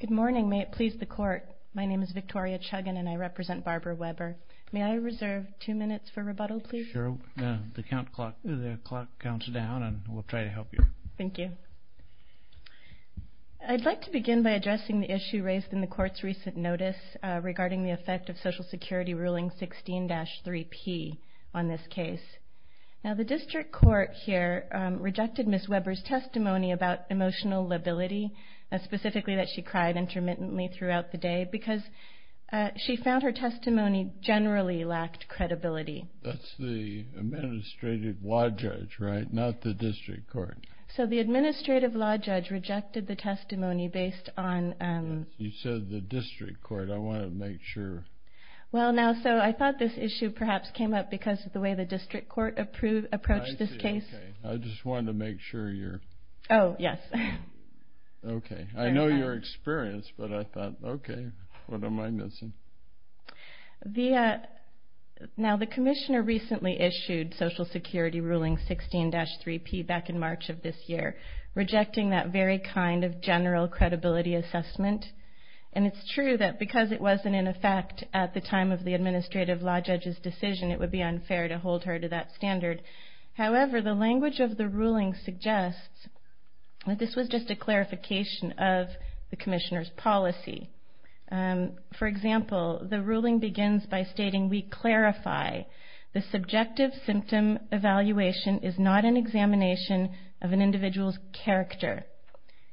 Good morning. May it please the court. My name is Victoria Chuggin and I represent Barbara Webber. May I reserve two minutes for rebuttal, please? Sure. The clock counts down and we'll try to help you. Thank you. I'd like to begin by addressing the issue raised in the court's recent notice regarding the effect of Social Security Ruling 16-3P on this case. Now, the district court here rejected Ms. Webber's testimony about emotional lability, specifically that she cried intermittently throughout the day, because she found her testimony generally lacked credibility. That's the administrative law judge, right, not the district court? So the administrative law judge rejected the testimony based on... You said the district court. I want to make sure... Well, now, so I thought this issue perhaps came up because of the way the district court approached this case. I see. Okay. I just wanted to make sure you're... Oh, yes. Okay. I know your experience, but I thought, okay, what am I missing? Now, the commissioner recently issued Social Security Ruling 16-3P back in March of this year, rejecting that very kind of general credibility assessment. And it's true that because it wasn't in effect at the time of the administrative law judge's decision, it would be unfair to hold her to that standard. However, the language of the ruling suggests that this was just a clarification of the commissioner's policy. For example, the ruling begins by stating, the subjective symptom evaluation is not an examination of an individual's character.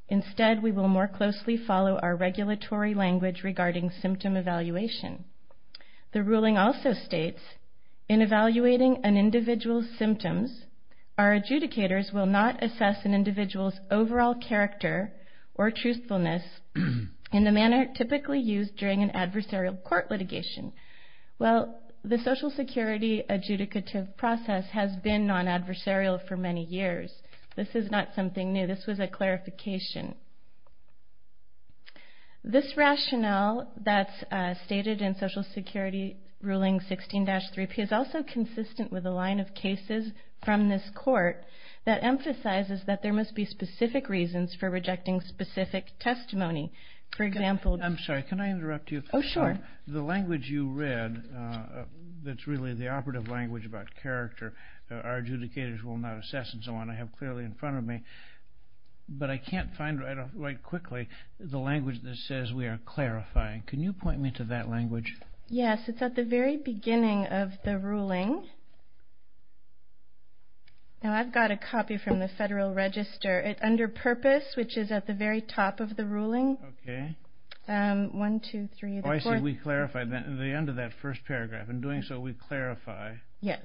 Instead, we will more closely follow our regulatory language regarding symptom evaluation. The ruling also states, in evaluating an individual's symptoms, our adjudicators will not assess an individual's overall character or truthfulness in the manner typically used during an adversarial court litigation. Well, the Social Security adjudicative process has been non-adversarial for many years. This is not something new. This was a clarification. This rationale that's stated in Social Security Ruling 16-3P is also consistent with a line of cases from this court that emphasizes that there must be specific reasons for rejecting specific testimony. For example... I'm sorry, can I interrupt you? Oh, sure. The language you read that's really the operative language about character, our adjudicators will not assess, and so on, I have clearly in front of me. But I can't find right quickly the language that says we are clarifying. Can you point me to that language? Yes, it's at the very beginning of the ruling. Now, I've got a copy from the Federal Register. It's under Purpose, which is at the very top of the ruling. Okay. One, two, three, four... Oh, I see. We clarify at the end of that first paragraph. In doing so, we clarify. Yes.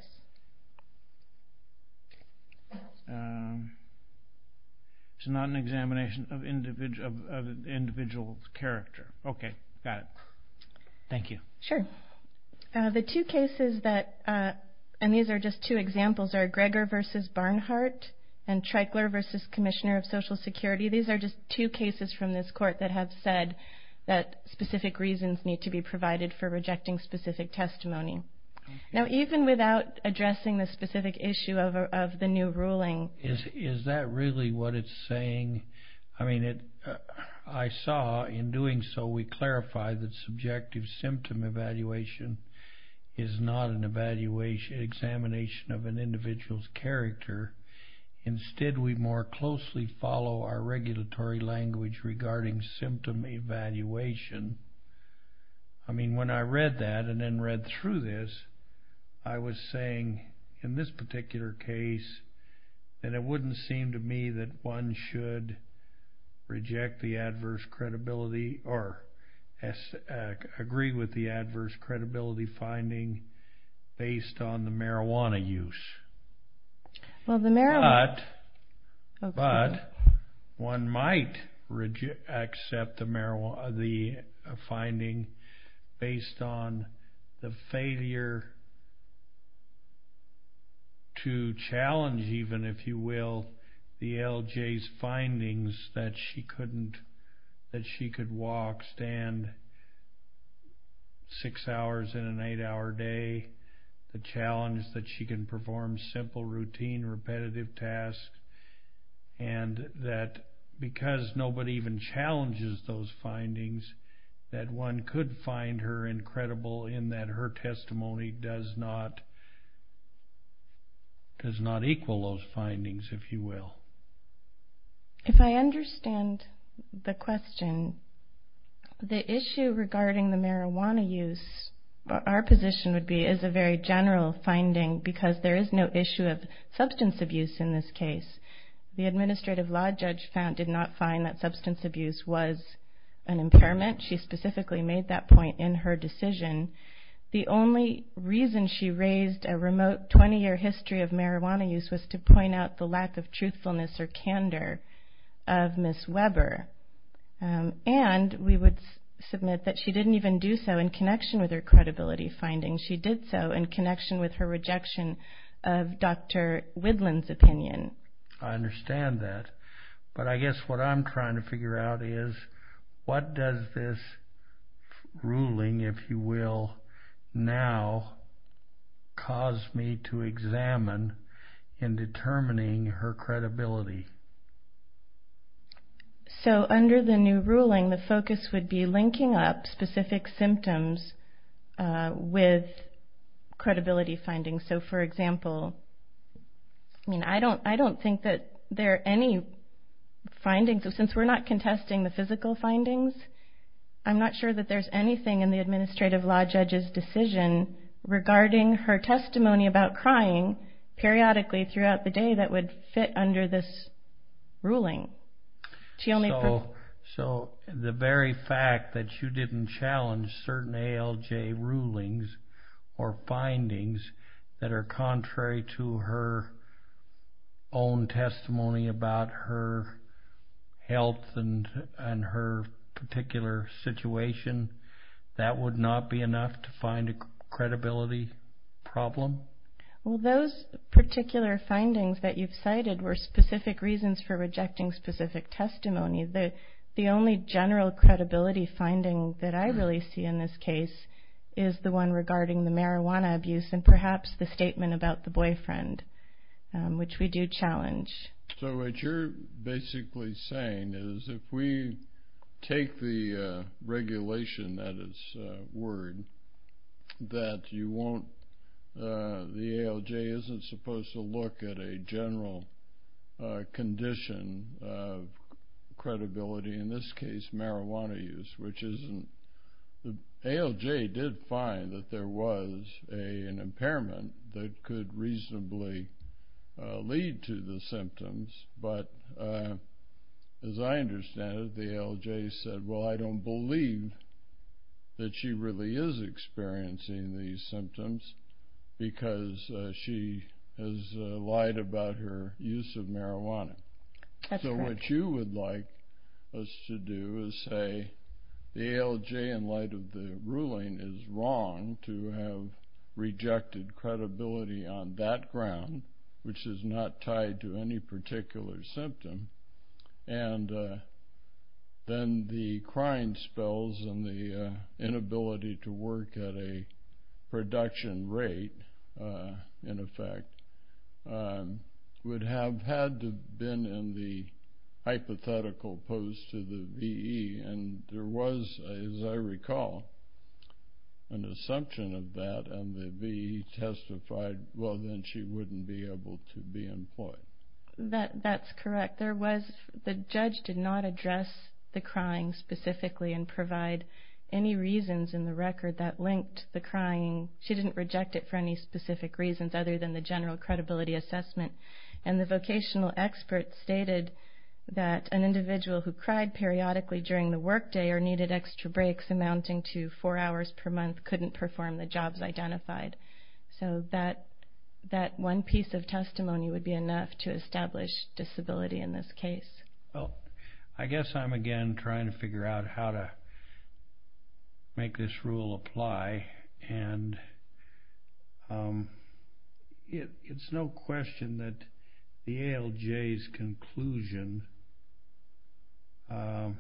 It's not an examination of individual character. Okay, got it. Thank you. Sure. The two cases that... And these are just two examples, are Greger v. Barnhart and Treichler v. Commissioner of Social Security. These are just two cases from this court that have said that specific reasons need to be provided for rejecting specific testimony. Now, even without addressing the specific issue of the new ruling... Is that really what it's saying? I mean, I saw in doing so we clarify that subjective symptom evaluation is not an examination of an individual's character. Instead, we more closely follow our regulatory language regarding symptom evaluation. I mean, when I read that and then read through this, I was saying in this particular case that it wouldn't seem to me that one should reject the adverse credibility or agree with the adverse credibility finding based on the marijuana use. Well, the marijuana... To challenge even, if you will, the LJ's findings that she couldn't... That she could walk, stand six hours in an eight-hour day. The challenge that she can perform simple, routine, repetitive tasks. And that because nobody even challenges those findings, that one could find her incredible in that her testimony does not equal those findings, if you will. If I understand the question, the issue regarding the marijuana use, our position would be as a very general finding because there is no issue of substance abuse in this case. The administrative law judge did not find that substance abuse was an impairment. She specifically made that point in her decision. The only reason she raised a remote 20-year history of marijuana use was to point out the lack of truthfulness or candor of Ms. Weber. And we would submit that she didn't even do so in connection with her credibility findings. She did so in connection with her rejection of Dr. Widland's opinion. I understand that, but I guess what I'm trying to figure out is what does this ruling, if you will, now cause me to examine in determining her credibility? So under the new ruling, the focus would be linking up specific symptoms with credibility findings. So, for example, I don't think that there are any findings. Since we're not contesting the physical findings, I'm not sure that there's anything in the administrative law judge's decision regarding her testimony about crying periodically throughout the day that would fit under this ruling. So the very fact that you didn't challenge certain ALJ rulings or findings that are contrary to her own testimony about her health and her particular situation, that would not be enough to find a credibility problem? Well, those particular findings that you've cited were specific reasons for rejecting specific testimony. The only general credibility finding that I really see in this case is the one regarding the marijuana abuse and perhaps the statement about the boyfriend, which we do challenge. So what you're basically saying is if we take the regulation at its word, that the ALJ isn't supposed to look at a general condition of credibility, in this case marijuana use, the ALJ did find that there was an impairment that could reasonably lead to the symptoms, but as I understand it, the ALJ said, well, I don't believe that she really is experiencing these symptoms because she has lied about her use of marijuana. So what you would like us to do is say the ALJ, in light of the ruling, is wrong to have rejected credibility on that ground, which is not tied to any particular symptom, and then the crying spells and the inability to work at a production rate, in effect, would have had to have been in the hypothetical pose to the VE, and there was, as I recall, an assumption of that, and the VE testified, well, then she wouldn't be able to be employed. That's correct. The judge did not address the crying specifically and provide any reasons in the record that linked the crying. She didn't reject it for any specific reasons other than the general credibility assessment, and the vocational expert stated that an individual who cried periodically during the workday or needed extra breaks amounting to four hours per month couldn't perform the jobs identified. So that one piece of testimony would be enough to establish disability in this case. Well, I guess I'm again trying to figure out how to make this rule apply, and it's no question that the ALJ's conclusion, it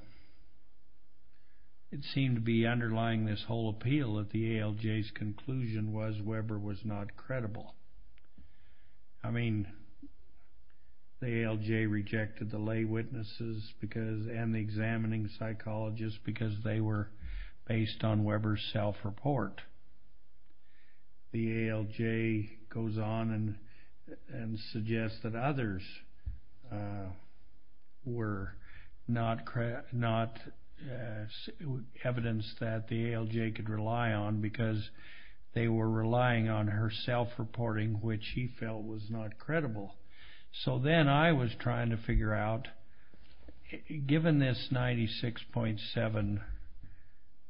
seemed to be underlying this whole appeal that the ALJ's conclusion was Weber was not credible. I mean, the ALJ rejected the lay witnesses and the examining psychologists because they were based on Weber's self-report. The ALJ goes on and suggests that others were not evidence that the ALJ could rely on because they were relying on her self-reporting, which she felt was not credible. So then I was trying to figure out, given this 96.7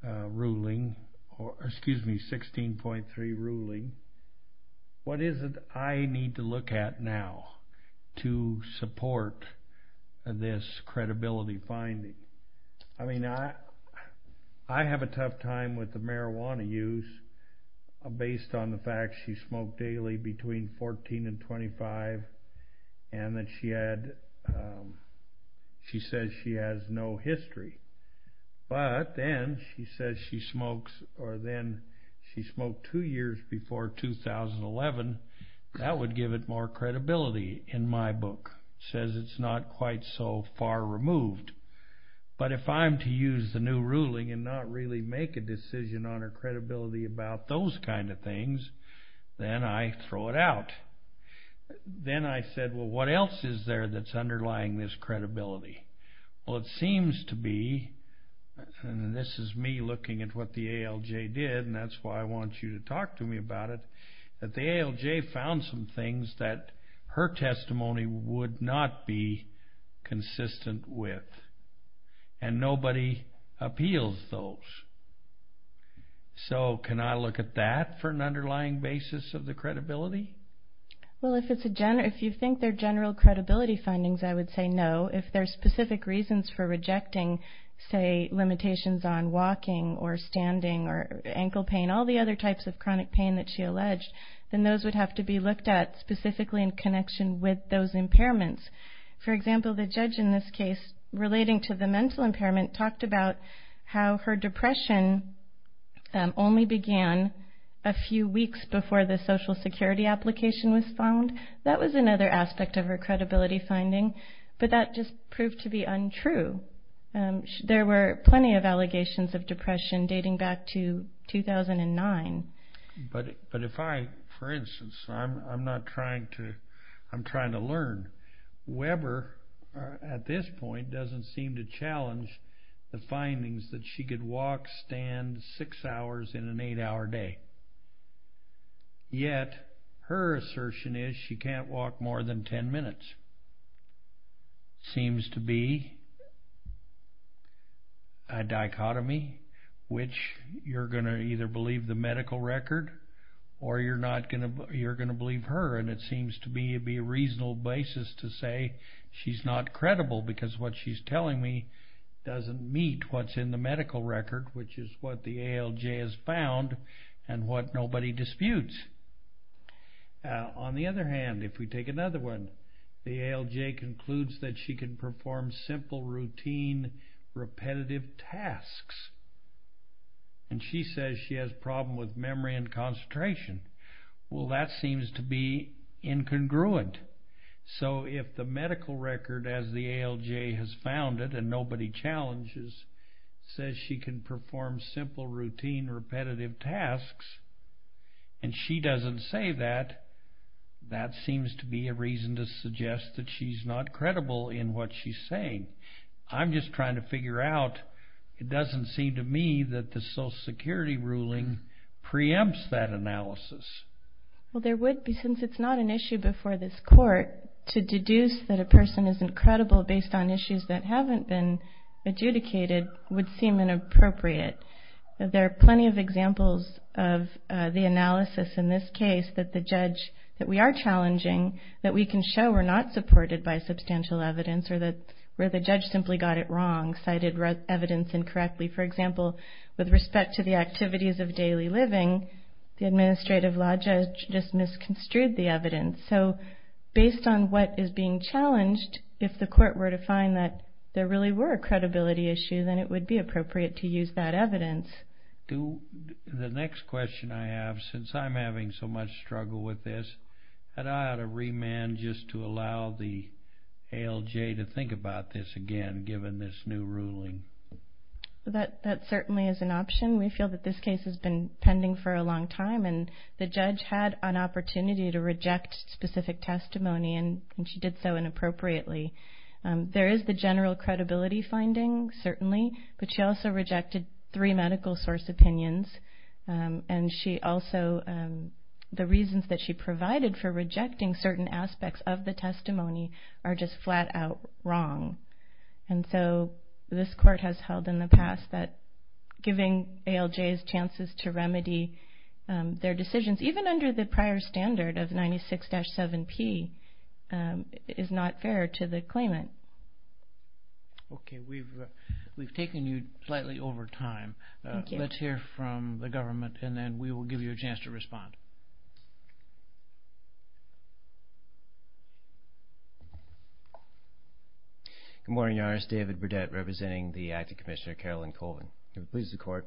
ruling, or excuse me, 16.3 ruling, what is it I need to look at now to support this credibility finding? I mean, I have a tough time with the marijuana use based on the fact she smoked daily between 14 and 25 and that she said she has no history. But then she says she smoked two years before 2011. That would give it more credibility in my book. It says it's not quite so far removed. But if I'm to use the new ruling and not really make a decision on her credibility about those kind of things, then I throw it out. Then I said, well, what else is there that's underlying this credibility? Well, it seems to be, and this is me looking at what the ALJ did, and that's why I want you to talk to me about it, that the ALJ found some things that her testimony would not be consistent with, and nobody appeals those. So can I look at that for an underlying basis of the credibility? Well, if you think they're general credibility findings, I would say no. If there's specific reasons for rejecting, say, limitations on walking or standing or ankle pain, all the other types of chronic pain that she alleged, then those would have to be looked at specifically in connection with those impairments. For example, the judge in this case, relating to the mental impairment, talked about how her depression only began a few weeks before the Social Security application was found. That was another aspect of her credibility finding. But that just proved to be untrue. There were plenty of allegations of depression dating back to 2009. But if I, for instance, I'm trying to learn. Weber, at this point, doesn't seem to challenge the findings that she could walk, stand six hours in an eight-hour day. Yet, her assertion is she can't walk more than 10 minutes. Seems to be a dichotomy, which you're going to either believe the medical record, or you're going to believe her. And it seems to be a reasonable basis to say she's not credible, because what she's telling me doesn't meet what's in the medical record, which is what the ALJ has found and what nobody disputes. On the other hand, if we take another one, the ALJ concludes that she can perform simple, routine, repetitive tasks. And she says she has a problem with memory and concentration. Well, that seems to be incongruent. So if the medical record, as the ALJ has found it and nobody challenges, says she can perform simple, routine, repetitive tasks, and she doesn't say that, that seems to be a reason to suggest that she's not credible in what she's saying. I'm just trying to figure out. It doesn't seem to me that the Social Security ruling preempts that analysis. Well, there would be, since it's not an issue before this court, to deduce that a person isn't credible based on issues that haven't been adjudicated would seem inappropriate. There are plenty of examples of the analysis in this case that the judge, that we are challenging, that we can show we're not supported by substantial evidence or that the judge simply got it wrong, cited evidence incorrectly. For example, with respect to the activities of daily living, the administrative law judge just misconstrued the evidence. So based on what is being challenged, if the court were to find that there really were a credibility issue, then it would be appropriate to use that evidence. The next question I have, since I'm having so much struggle with this, had I had a remand just to allow the ALJ to think about this again, given this new ruling? That certainly is an option. We feel that this case has been pending for a long time, and the judge had an opportunity to reject specific testimony, and she did so inappropriately. There is the general credibility finding, certainly, but she also rejected three medical source opinions, and the reasons that she provided for rejecting certain aspects of the testimony are just flat-out wrong. So this court has held in the past that giving ALJs chances to remedy their decisions, even under the prior standard of 96-7P, is not fair to the claimant. Okay, we've taken you slightly over time. Thank you. Let's hear from the government, and then we will give you a chance to respond. Good morning, Your Honor. This is David Burdette, representing the Acting Commissioner, Carolyn Colvin. It pleases the Court.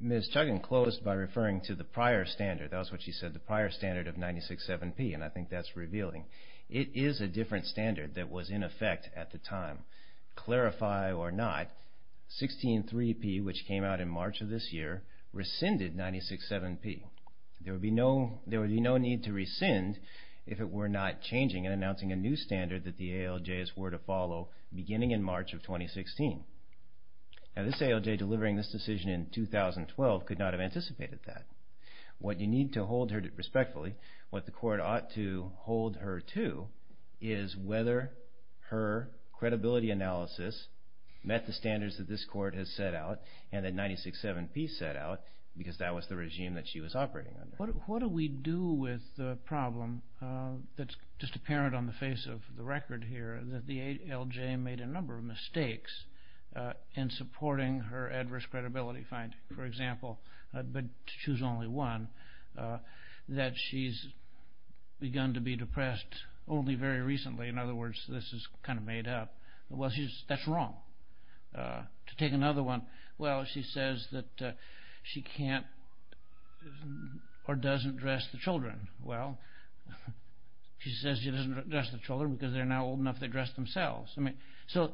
Ms. Chuggin closed by referring to the prior standard. That was what she said, the prior standard of 96-7P, and I think that's revealing. It is a different standard that was in effect at the time. To clarify or not, 16-3P, which came out in March of this year, rescinded 96-7P. There would be no need to rescind if it were not changing and announcing a new standard that the ALJs were to follow beginning in March of 2016. Now, this ALJ delivering this decision in 2012 could not have anticipated that. What you need to hold her to, respectfully, what the Court ought to hold her to, is whether her credibility analysis met the standards that this Court has set out and that 96-7P set out, because that was the regime that she was operating under. What do we do with the problem that's just apparent on the face of the record here that the ALJ made a number of mistakes in supporting her adverse credibility finding, for example, but to choose only one, that she's begun to be depressed only very recently. In other words, this is kind of made up. Well, that's wrong. To take another one, well, she says that she can't or doesn't dress the children. Well, she says she doesn't dress the children because they're not old enough to dress themselves. So,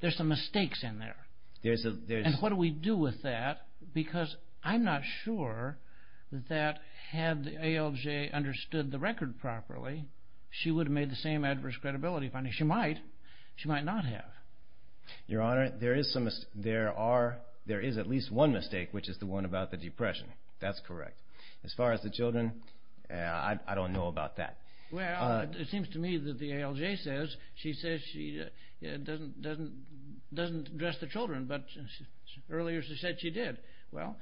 there's some mistakes in there. And what do we do with that? Because I'm not sure that had the ALJ understood the record properly, she would have made the same adverse credibility finding. She might. She might not have. Your Honor, there is at least one mistake, which is the one about the depression. That's correct. As far as the children, I don't know about that. Well, it seems to me that the ALJ says she doesn't dress the children, but earlier she said she did. Well,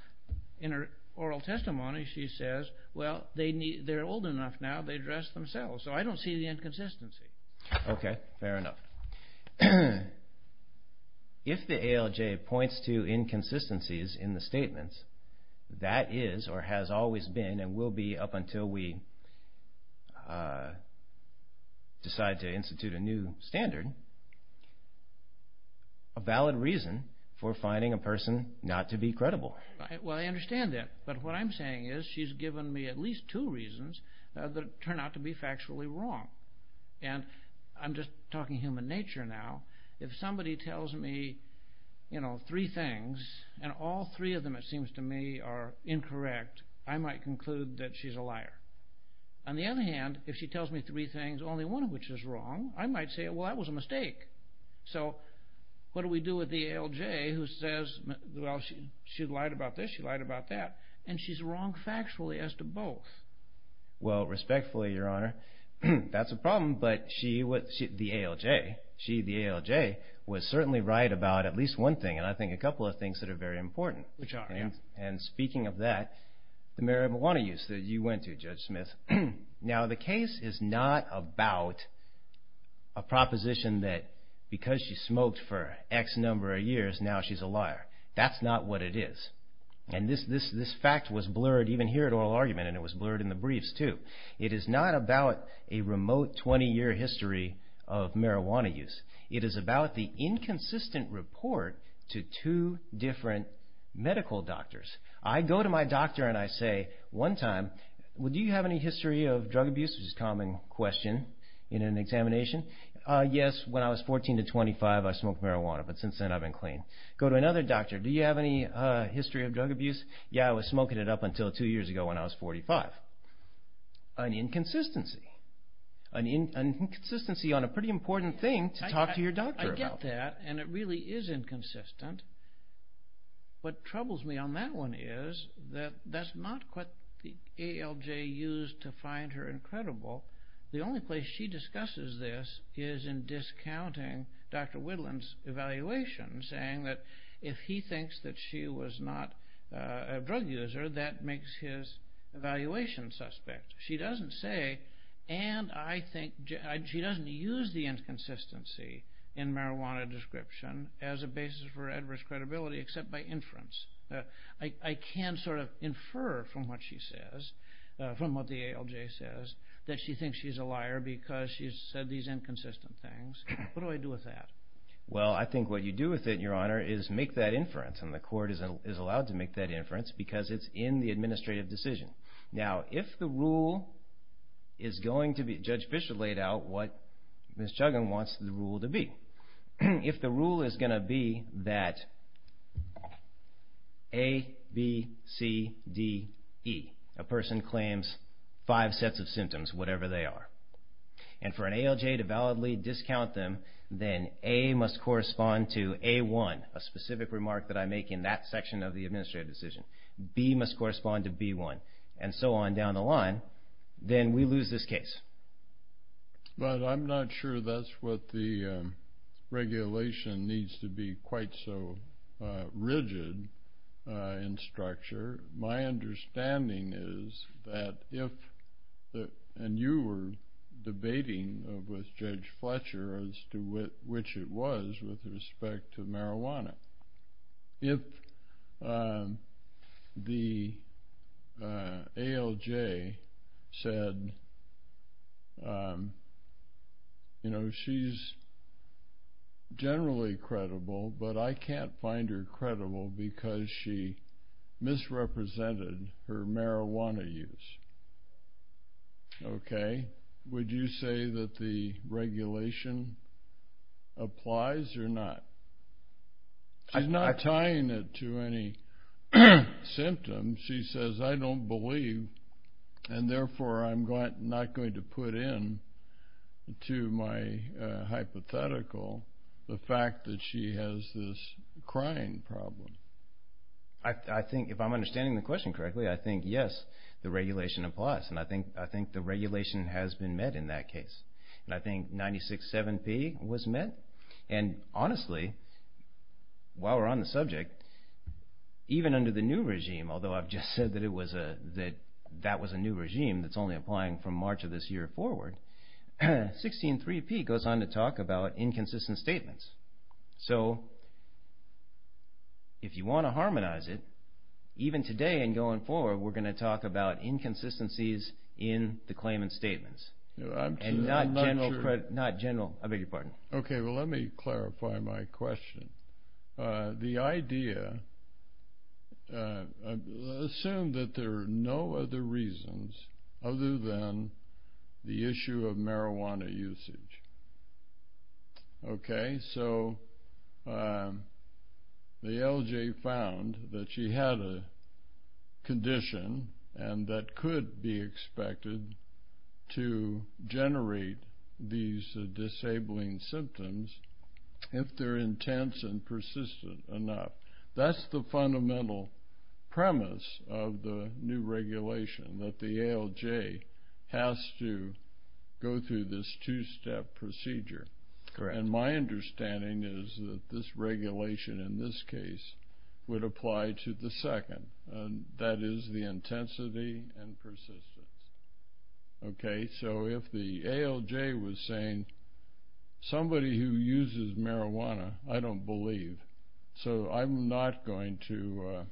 in her oral testimony, she says, well, they're old enough now, they dress themselves. So, I don't see the inconsistency. Okay, fair enough. If the ALJ points to inconsistencies in the statements, that is or has always been and will be up until we decide to institute a new standard, a valid reason for finding a person not to be credible. Well, I understand that. But what I'm saying is she's given me at least two reasons that turn out to be factually wrong. And I'm just talking human nature now. If somebody tells me, you know, three things and all three of them, it seems to me, are incorrect, I might conclude that she's a liar. On the other hand, if she tells me three things, only one of which is wrong, I might say, well, that was a mistake. So, what do we do with the ALJ who says, well, she lied about this, she lied about that, and she's wrong factually as to both. The ALJ, she, the ALJ, was certainly right about at least one thing, and I think a couple of things that are very important. Which are? And speaking of that, the marijuana use that you went to, Judge Smith. Now, the case is not about a proposition that because she smoked for X number of years, now she's a liar. That's not what it is. And this fact was blurred even here at Oral Argument, and it was blurred in the briefs, too. It is not about a remote 20-year history of marijuana use. It is about the inconsistent report to two different medical doctors. I go to my doctor and I say, one time, well, do you have any history of drug abuse? Which is a common question in an examination. Yes, when I was 14 to 25, I smoked marijuana, but since then I've been clean. Go to another doctor, do you have any history of drug abuse? Yeah, I was smoking it up until two years ago when I was 45. An inconsistency. An inconsistency on a pretty important thing to talk to your doctor about. I get that, and it really is inconsistent. What troubles me on that one is that that's not what the ALJ used to find her incredible. The only place she discusses this is in discounting Dr. Whitland's evaluation, saying that if he thinks that she was not a drug user, that makes his evaluation suspect. She doesn't say, and I think she doesn't use the inconsistency in marijuana description as a basis for adverse credibility except by inference. I can sort of infer from what she says, from what the ALJ says, that she thinks she's a liar because she's said these inconsistent things. What do I do with that? Well, I think what you do with it, Your Honor, is make that inference, and the court is allowed to make that inference because it's in the administrative decision. Now, if the rule is going to be, Judge Bishop laid out what Ms. Chuggan wants the rule to be. If the rule is going to be that A, B, C, D, E, a person claims five sets of symptoms, whatever they are, and for an ALJ to validly discount them, then A must correspond to A1, a specific remark that I make in that section of the administrative decision. B must correspond to B1, and so on down the line. Then we lose this case. But I'm not sure that's what the regulation needs to be quite so rigid in structure. My understanding is that if, and you were debating with Judge Fletcher as to which it was with respect to marijuana, if the ALJ said, you know, she's generally credible, but I can't find her credible because she misrepresented her marijuana use, okay, would you say that the regulation applies or not? She's not tying it to any symptoms. She says, I don't believe, and therefore I'm not going to put in to my hypothetical the fact that she has this crying problem. I think, if I'm understanding the question correctly, I think, yes, the regulation applies. And I think the regulation has been met in that case. And I think 96-7P was met. And honestly, while we're on the subject, even under the new regime, although I've just said that that was a new regime that's only applying from March of this year forward, 16-3P goes on to talk about inconsistent statements. So, if you want to harmonize it, even today and going forward, we're going to talk about inconsistencies in the claimant's statements. And not general, I beg your pardon. Okay, well, let me clarify my question. The idea, assume that there are no other reasons other than the issue of marijuana usage. Okay, so the LJ found that she had a condition and that could be expected to generate these disabling symptoms if they're intense and persistent enough. That's the fundamental premise of the new regulation, that the ALJ has to go through this two-step procedure. And my understanding is that this regulation in this case would apply to the second, and that is the intensity and persistence. Okay, so if the ALJ was saying, somebody who uses marijuana, I don't believe. So, I'm not going to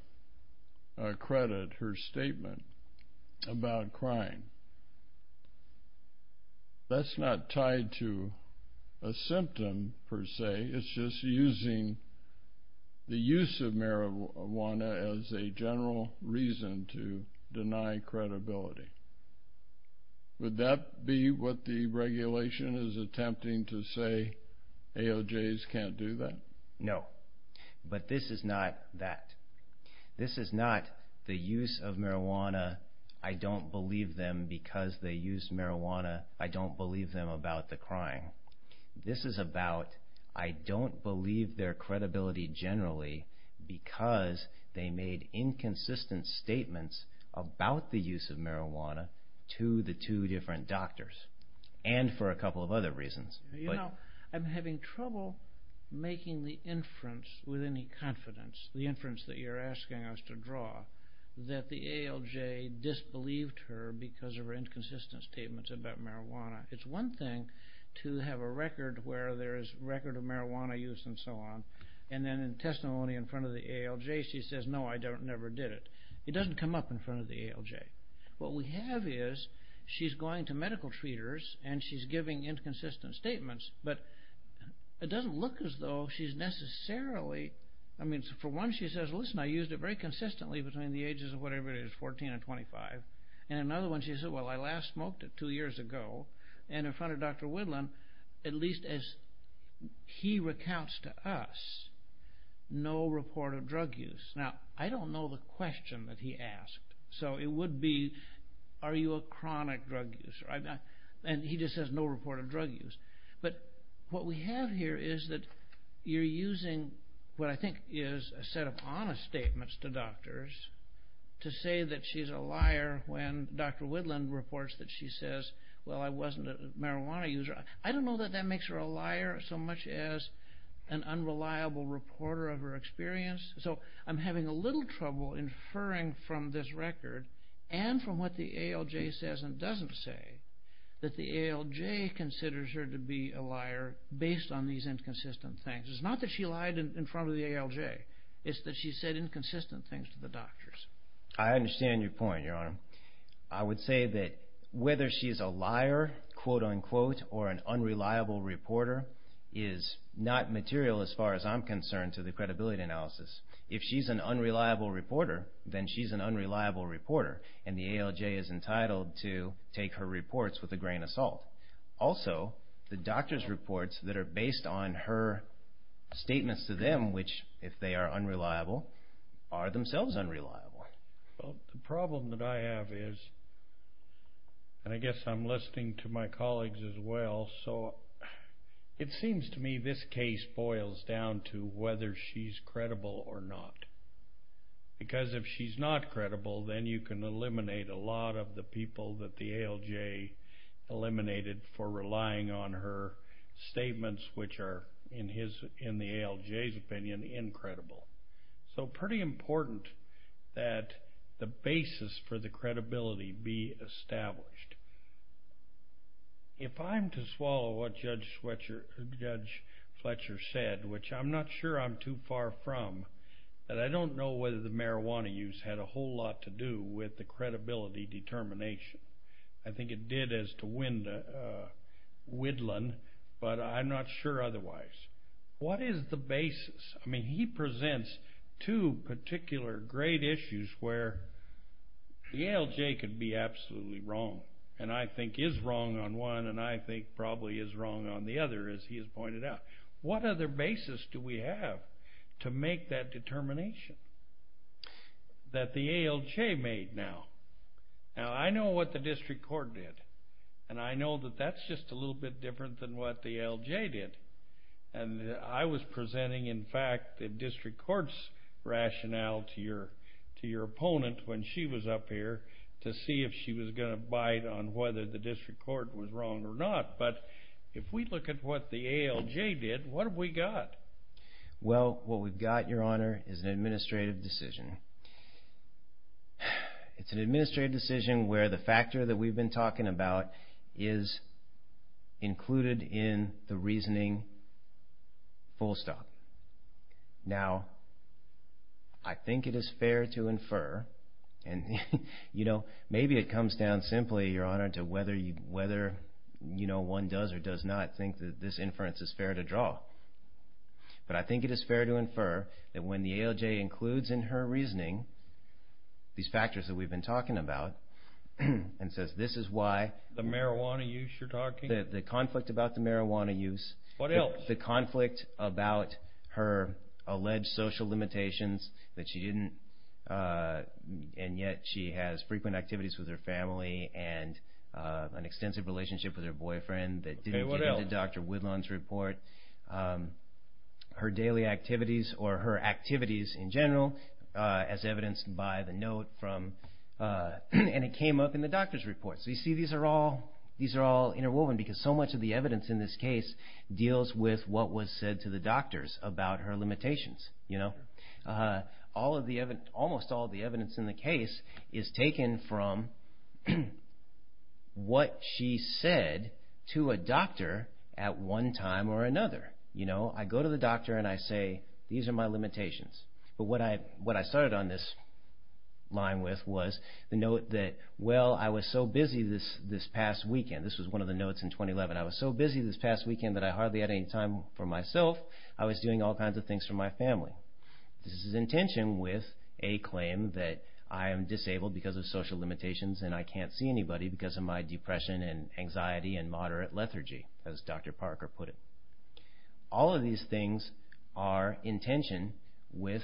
credit her statement about crime. That's not tied to a symptom, per se. It's just using the use of marijuana as a general reason to deny credibility. Would that be what the regulation is attempting to say ALJs can't do that? No, but this is not that. This is not the use of marijuana, I don't believe them because they use marijuana, I don't believe them about the crime. This is about, I don't believe their credibility generally because they made inconsistent statements about the use of marijuana to the two different doctors, and for a couple of other reasons. You know, I'm having trouble making the inference with any confidence, the inference that you're asking us to draw, that the ALJ disbelieved her because of her inconsistent statements about marijuana. It's one thing to have a record where there is a record of marijuana use and so on, and then in testimony in front of the ALJ she says, no, I never did it. It doesn't come up in front of the ALJ. What we have is, she's going to medical treaters and she's giving inconsistent statements, but it doesn't look as though she's necessarily, I mean, for one she says, listen, I used it very consistently between the ages of whatever it is, 14 and 25, and in another one she says, well, I last smoked it two years ago, and in front of Dr. Whitlam, at least as he recounts to us, no report of drug use. Now, I don't know the question that he asked, so it would be, are you a chronic drug user? And he just says, no report of drug use. But what we have here is that you're using what I think is a set of honest statements to doctors to say that she's a liar when Dr. Whitlam reports that she says, well, I wasn't a marijuana user. I don't know that that makes her a liar so much as an unreliable reporter of her experience. So I'm having a little trouble inferring from this record and from what the ALJ says and doesn't say that the ALJ considers her to be a liar based on these inconsistent things. It's not that she lied in front of the ALJ. It's that she said inconsistent things to the doctors. I understand your point, Your Honor. I would say that whether she's a liar, quote-unquote, or an unreliable reporter is not material, as far as I'm concerned, to the credibility analysis. If she's an unreliable reporter, then she's an unreliable reporter, and the ALJ is entitled to take her reports with a grain of salt. Also, the doctors' reports that are based on her statements to them, which, if they are unreliable, are themselves unreliable. The problem that I have is, and I guess I'm listening to my colleagues as well, so it seems to me this case boils down to whether she's credible or not. Because if she's not credible, then you can eliminate a lot of the people that the ALJ eliminated for relying on her statements, which are, in the ALJ's opinion, incredible. So pretty important that the basis for the credibility be established. If I'm to swallow what Judge Fletcher said, which I'm not sure I'm too far from, that I don't know whether the marijuana use had a whole lot to do with the credibility determination. I think it did as to Whitland, but I'm not sure otherwise. What is the basis? I mean, he presents two particular great issues where the ALJ could be absolutely wrong, and I think is wrong on one, and I think probably is wrong on the other, as he has pointed out. What other basis do we have to make that determination that the ALJ made now? Now, I know what the district court did, and I know that that's just a little bit different than what the ALJ did. And I was presenting, in fact, the district court's rationale to your opponent when she was up here to see if she was going to bite on whether the district court was wrong or not. But if we look at what the ALJ did, what have we got? Well, what we've got, Your Honor, is an administrative decision. It's an administrative decision where the factor that we've been talking about is included in the reasoning full stop. Now, I think it is fair to infer, and maybe it comes down simply, Your Honor, to whether one does or does not think that this inference is fair to draw. But I think it is fair to infer that when the ALJ includes in her reasoning these factors that we've been talking about and says this is why The marijuana use you're talking about? The conflict about the marijuana use. What else? The conflict about her alleged social limitations that she didn't, and yet she has frequent activities with her family and an extensive relationship with her boyfriend that didn't get into Dr. Woodlawn's report. Okay, what else? Her daily activities or her activities in general as evidenced by the note from, and it came up in the doctor's report. So you see these are all interwoven because so much of the evidence in this case deals with what was said to the doctors about her limitations. Almost all of the evidence in the case is taken from what she said to a doctor at one time or another. I go to the doctor and I say these are my limitations. But what I started on this line with was the note that well I was so busy this past weekend. This was one of the notes in 2011. I was so busy this past weekend that I hardly had any time for myself. I was doing all kinds of things for my family. This is in tension with a claim that I am disabled because of social limitations and I can't see anybody because of my depression and anxiety and moderate lethargy, as Dr. Parker put it. All of these things are in tension with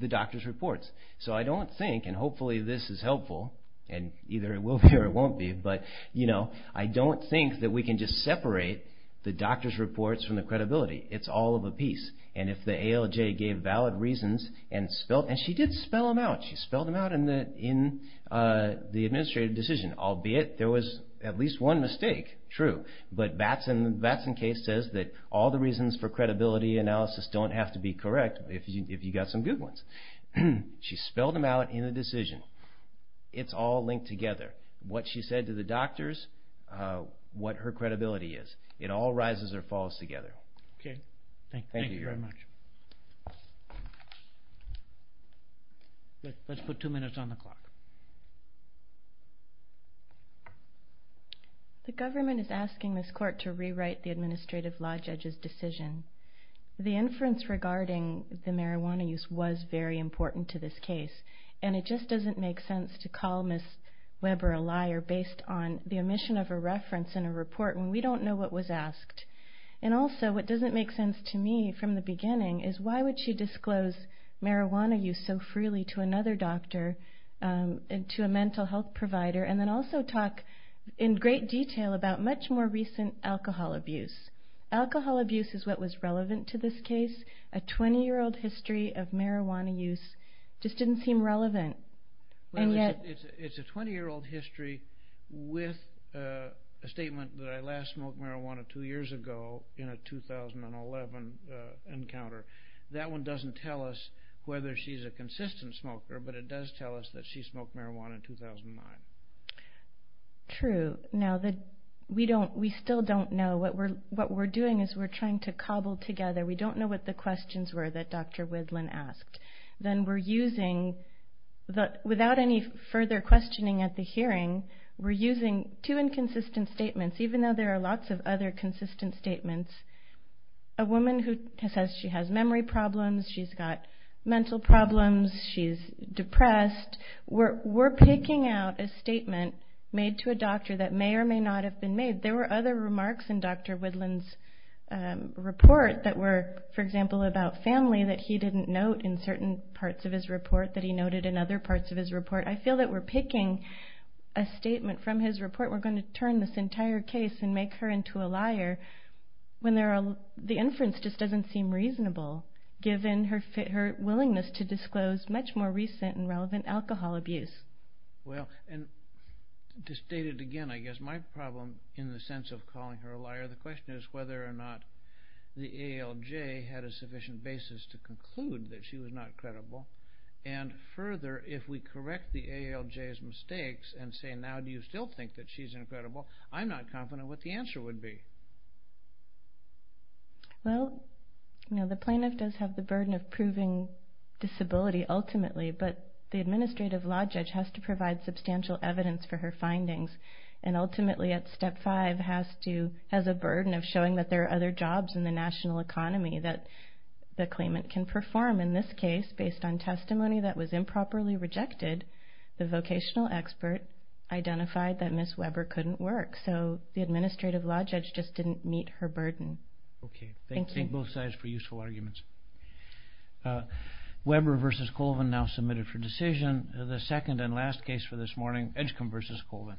the doctor's reports. So I don't think, and hopefully this is helpful, and either it will be or it won't be, but I don't think that we can just separate the doctor's reports from the credibility. It's all of a piece. And if the ALJ gave valid reasons and spelled, and she did spell them out. She spelled them out in the administrative decision. And albeit there was at least one mistake, true, but Batson Case says that all the reasons for credibility analysis don't have to be correct if you've got some good ones. She spelled them out in the decision. It's all linked together. What she said to the doctors, what her credibility is. It all rises or falls together. Okay. Thank you very much. Let's put two minutes on the clock. The government is asking this court to rewrite the administrative law judge's decision. The inference regarding the marijuana use was very important to this case, and it just doesn't make sense to call Ms. Weber a liar based on the omission of a reference in a report when we don't know what was asked. And also what doesn't make sense to me from the beginning is why would she disclose marijuana use so freely to another doctor, to a mental health provider, and then also talk in great detail about much more recent alcohol abuse. Alcohol abuse is what was relevant to this case. A 20-year-old history of marijuana use just didn't seem relevant. It's a 20-year-old history with a statement that I last smoked marijuana two years ago in a 2011 encounter. That one doesn't tell us whether she's a consistent smoker, but it does tell us that she smoked marijuana in 2009. True. Now, we still don't know. What we're doing is we're trying to cobble together. We don't know what the questions were that Dr. Widland asked. Then we're using, without any further questioning at the hearing, we're using two inconsistent statements, even though there are lots of other consistent statements. A woman who says she has memory problems, she's got mental problems, she's depressed. We're picking out a statement made to a doctor that may or may not have been made. There were other remarks in Dr. Widland's report that were, for example, about family that he didn't note in certain parts of his report that he noted in other parts of his report. I feel that we're picking a statement from his report. We're going to turn this entire case and make her into a liar when the inference just doesn't seem reasonable, given her willingness to disclose much more recent and relevant alcohol abuse. Well, and to state it again, I guess my problem in the sense of calling her a liar, the question is whether or not the ALJ had a sufficient basis to conclude that she was not credible. And further, if we correct the ALJ's mistakes and say, now do you still think that she's incredible, I'm not confident what the answer would be. Well, the plaintiff does have the burden of proving disability ultimately, but the administrative law judge has to provide substantial evidence for her findings. And ultimately, at step five, has a burden of showing that there are other jobs in the national economy that the claimant can perform. In this case, based on testimony that was improperly rejected, the vocational expert identified that Ms. Weber couldn't work. So the administrative law judge just didn't meet her burden. Okay. Thank you. Thank both sides for useful arguments. Weber v. Colvin now submitted for decision. The second and last case for this morning, Edgecombe v. Colvin.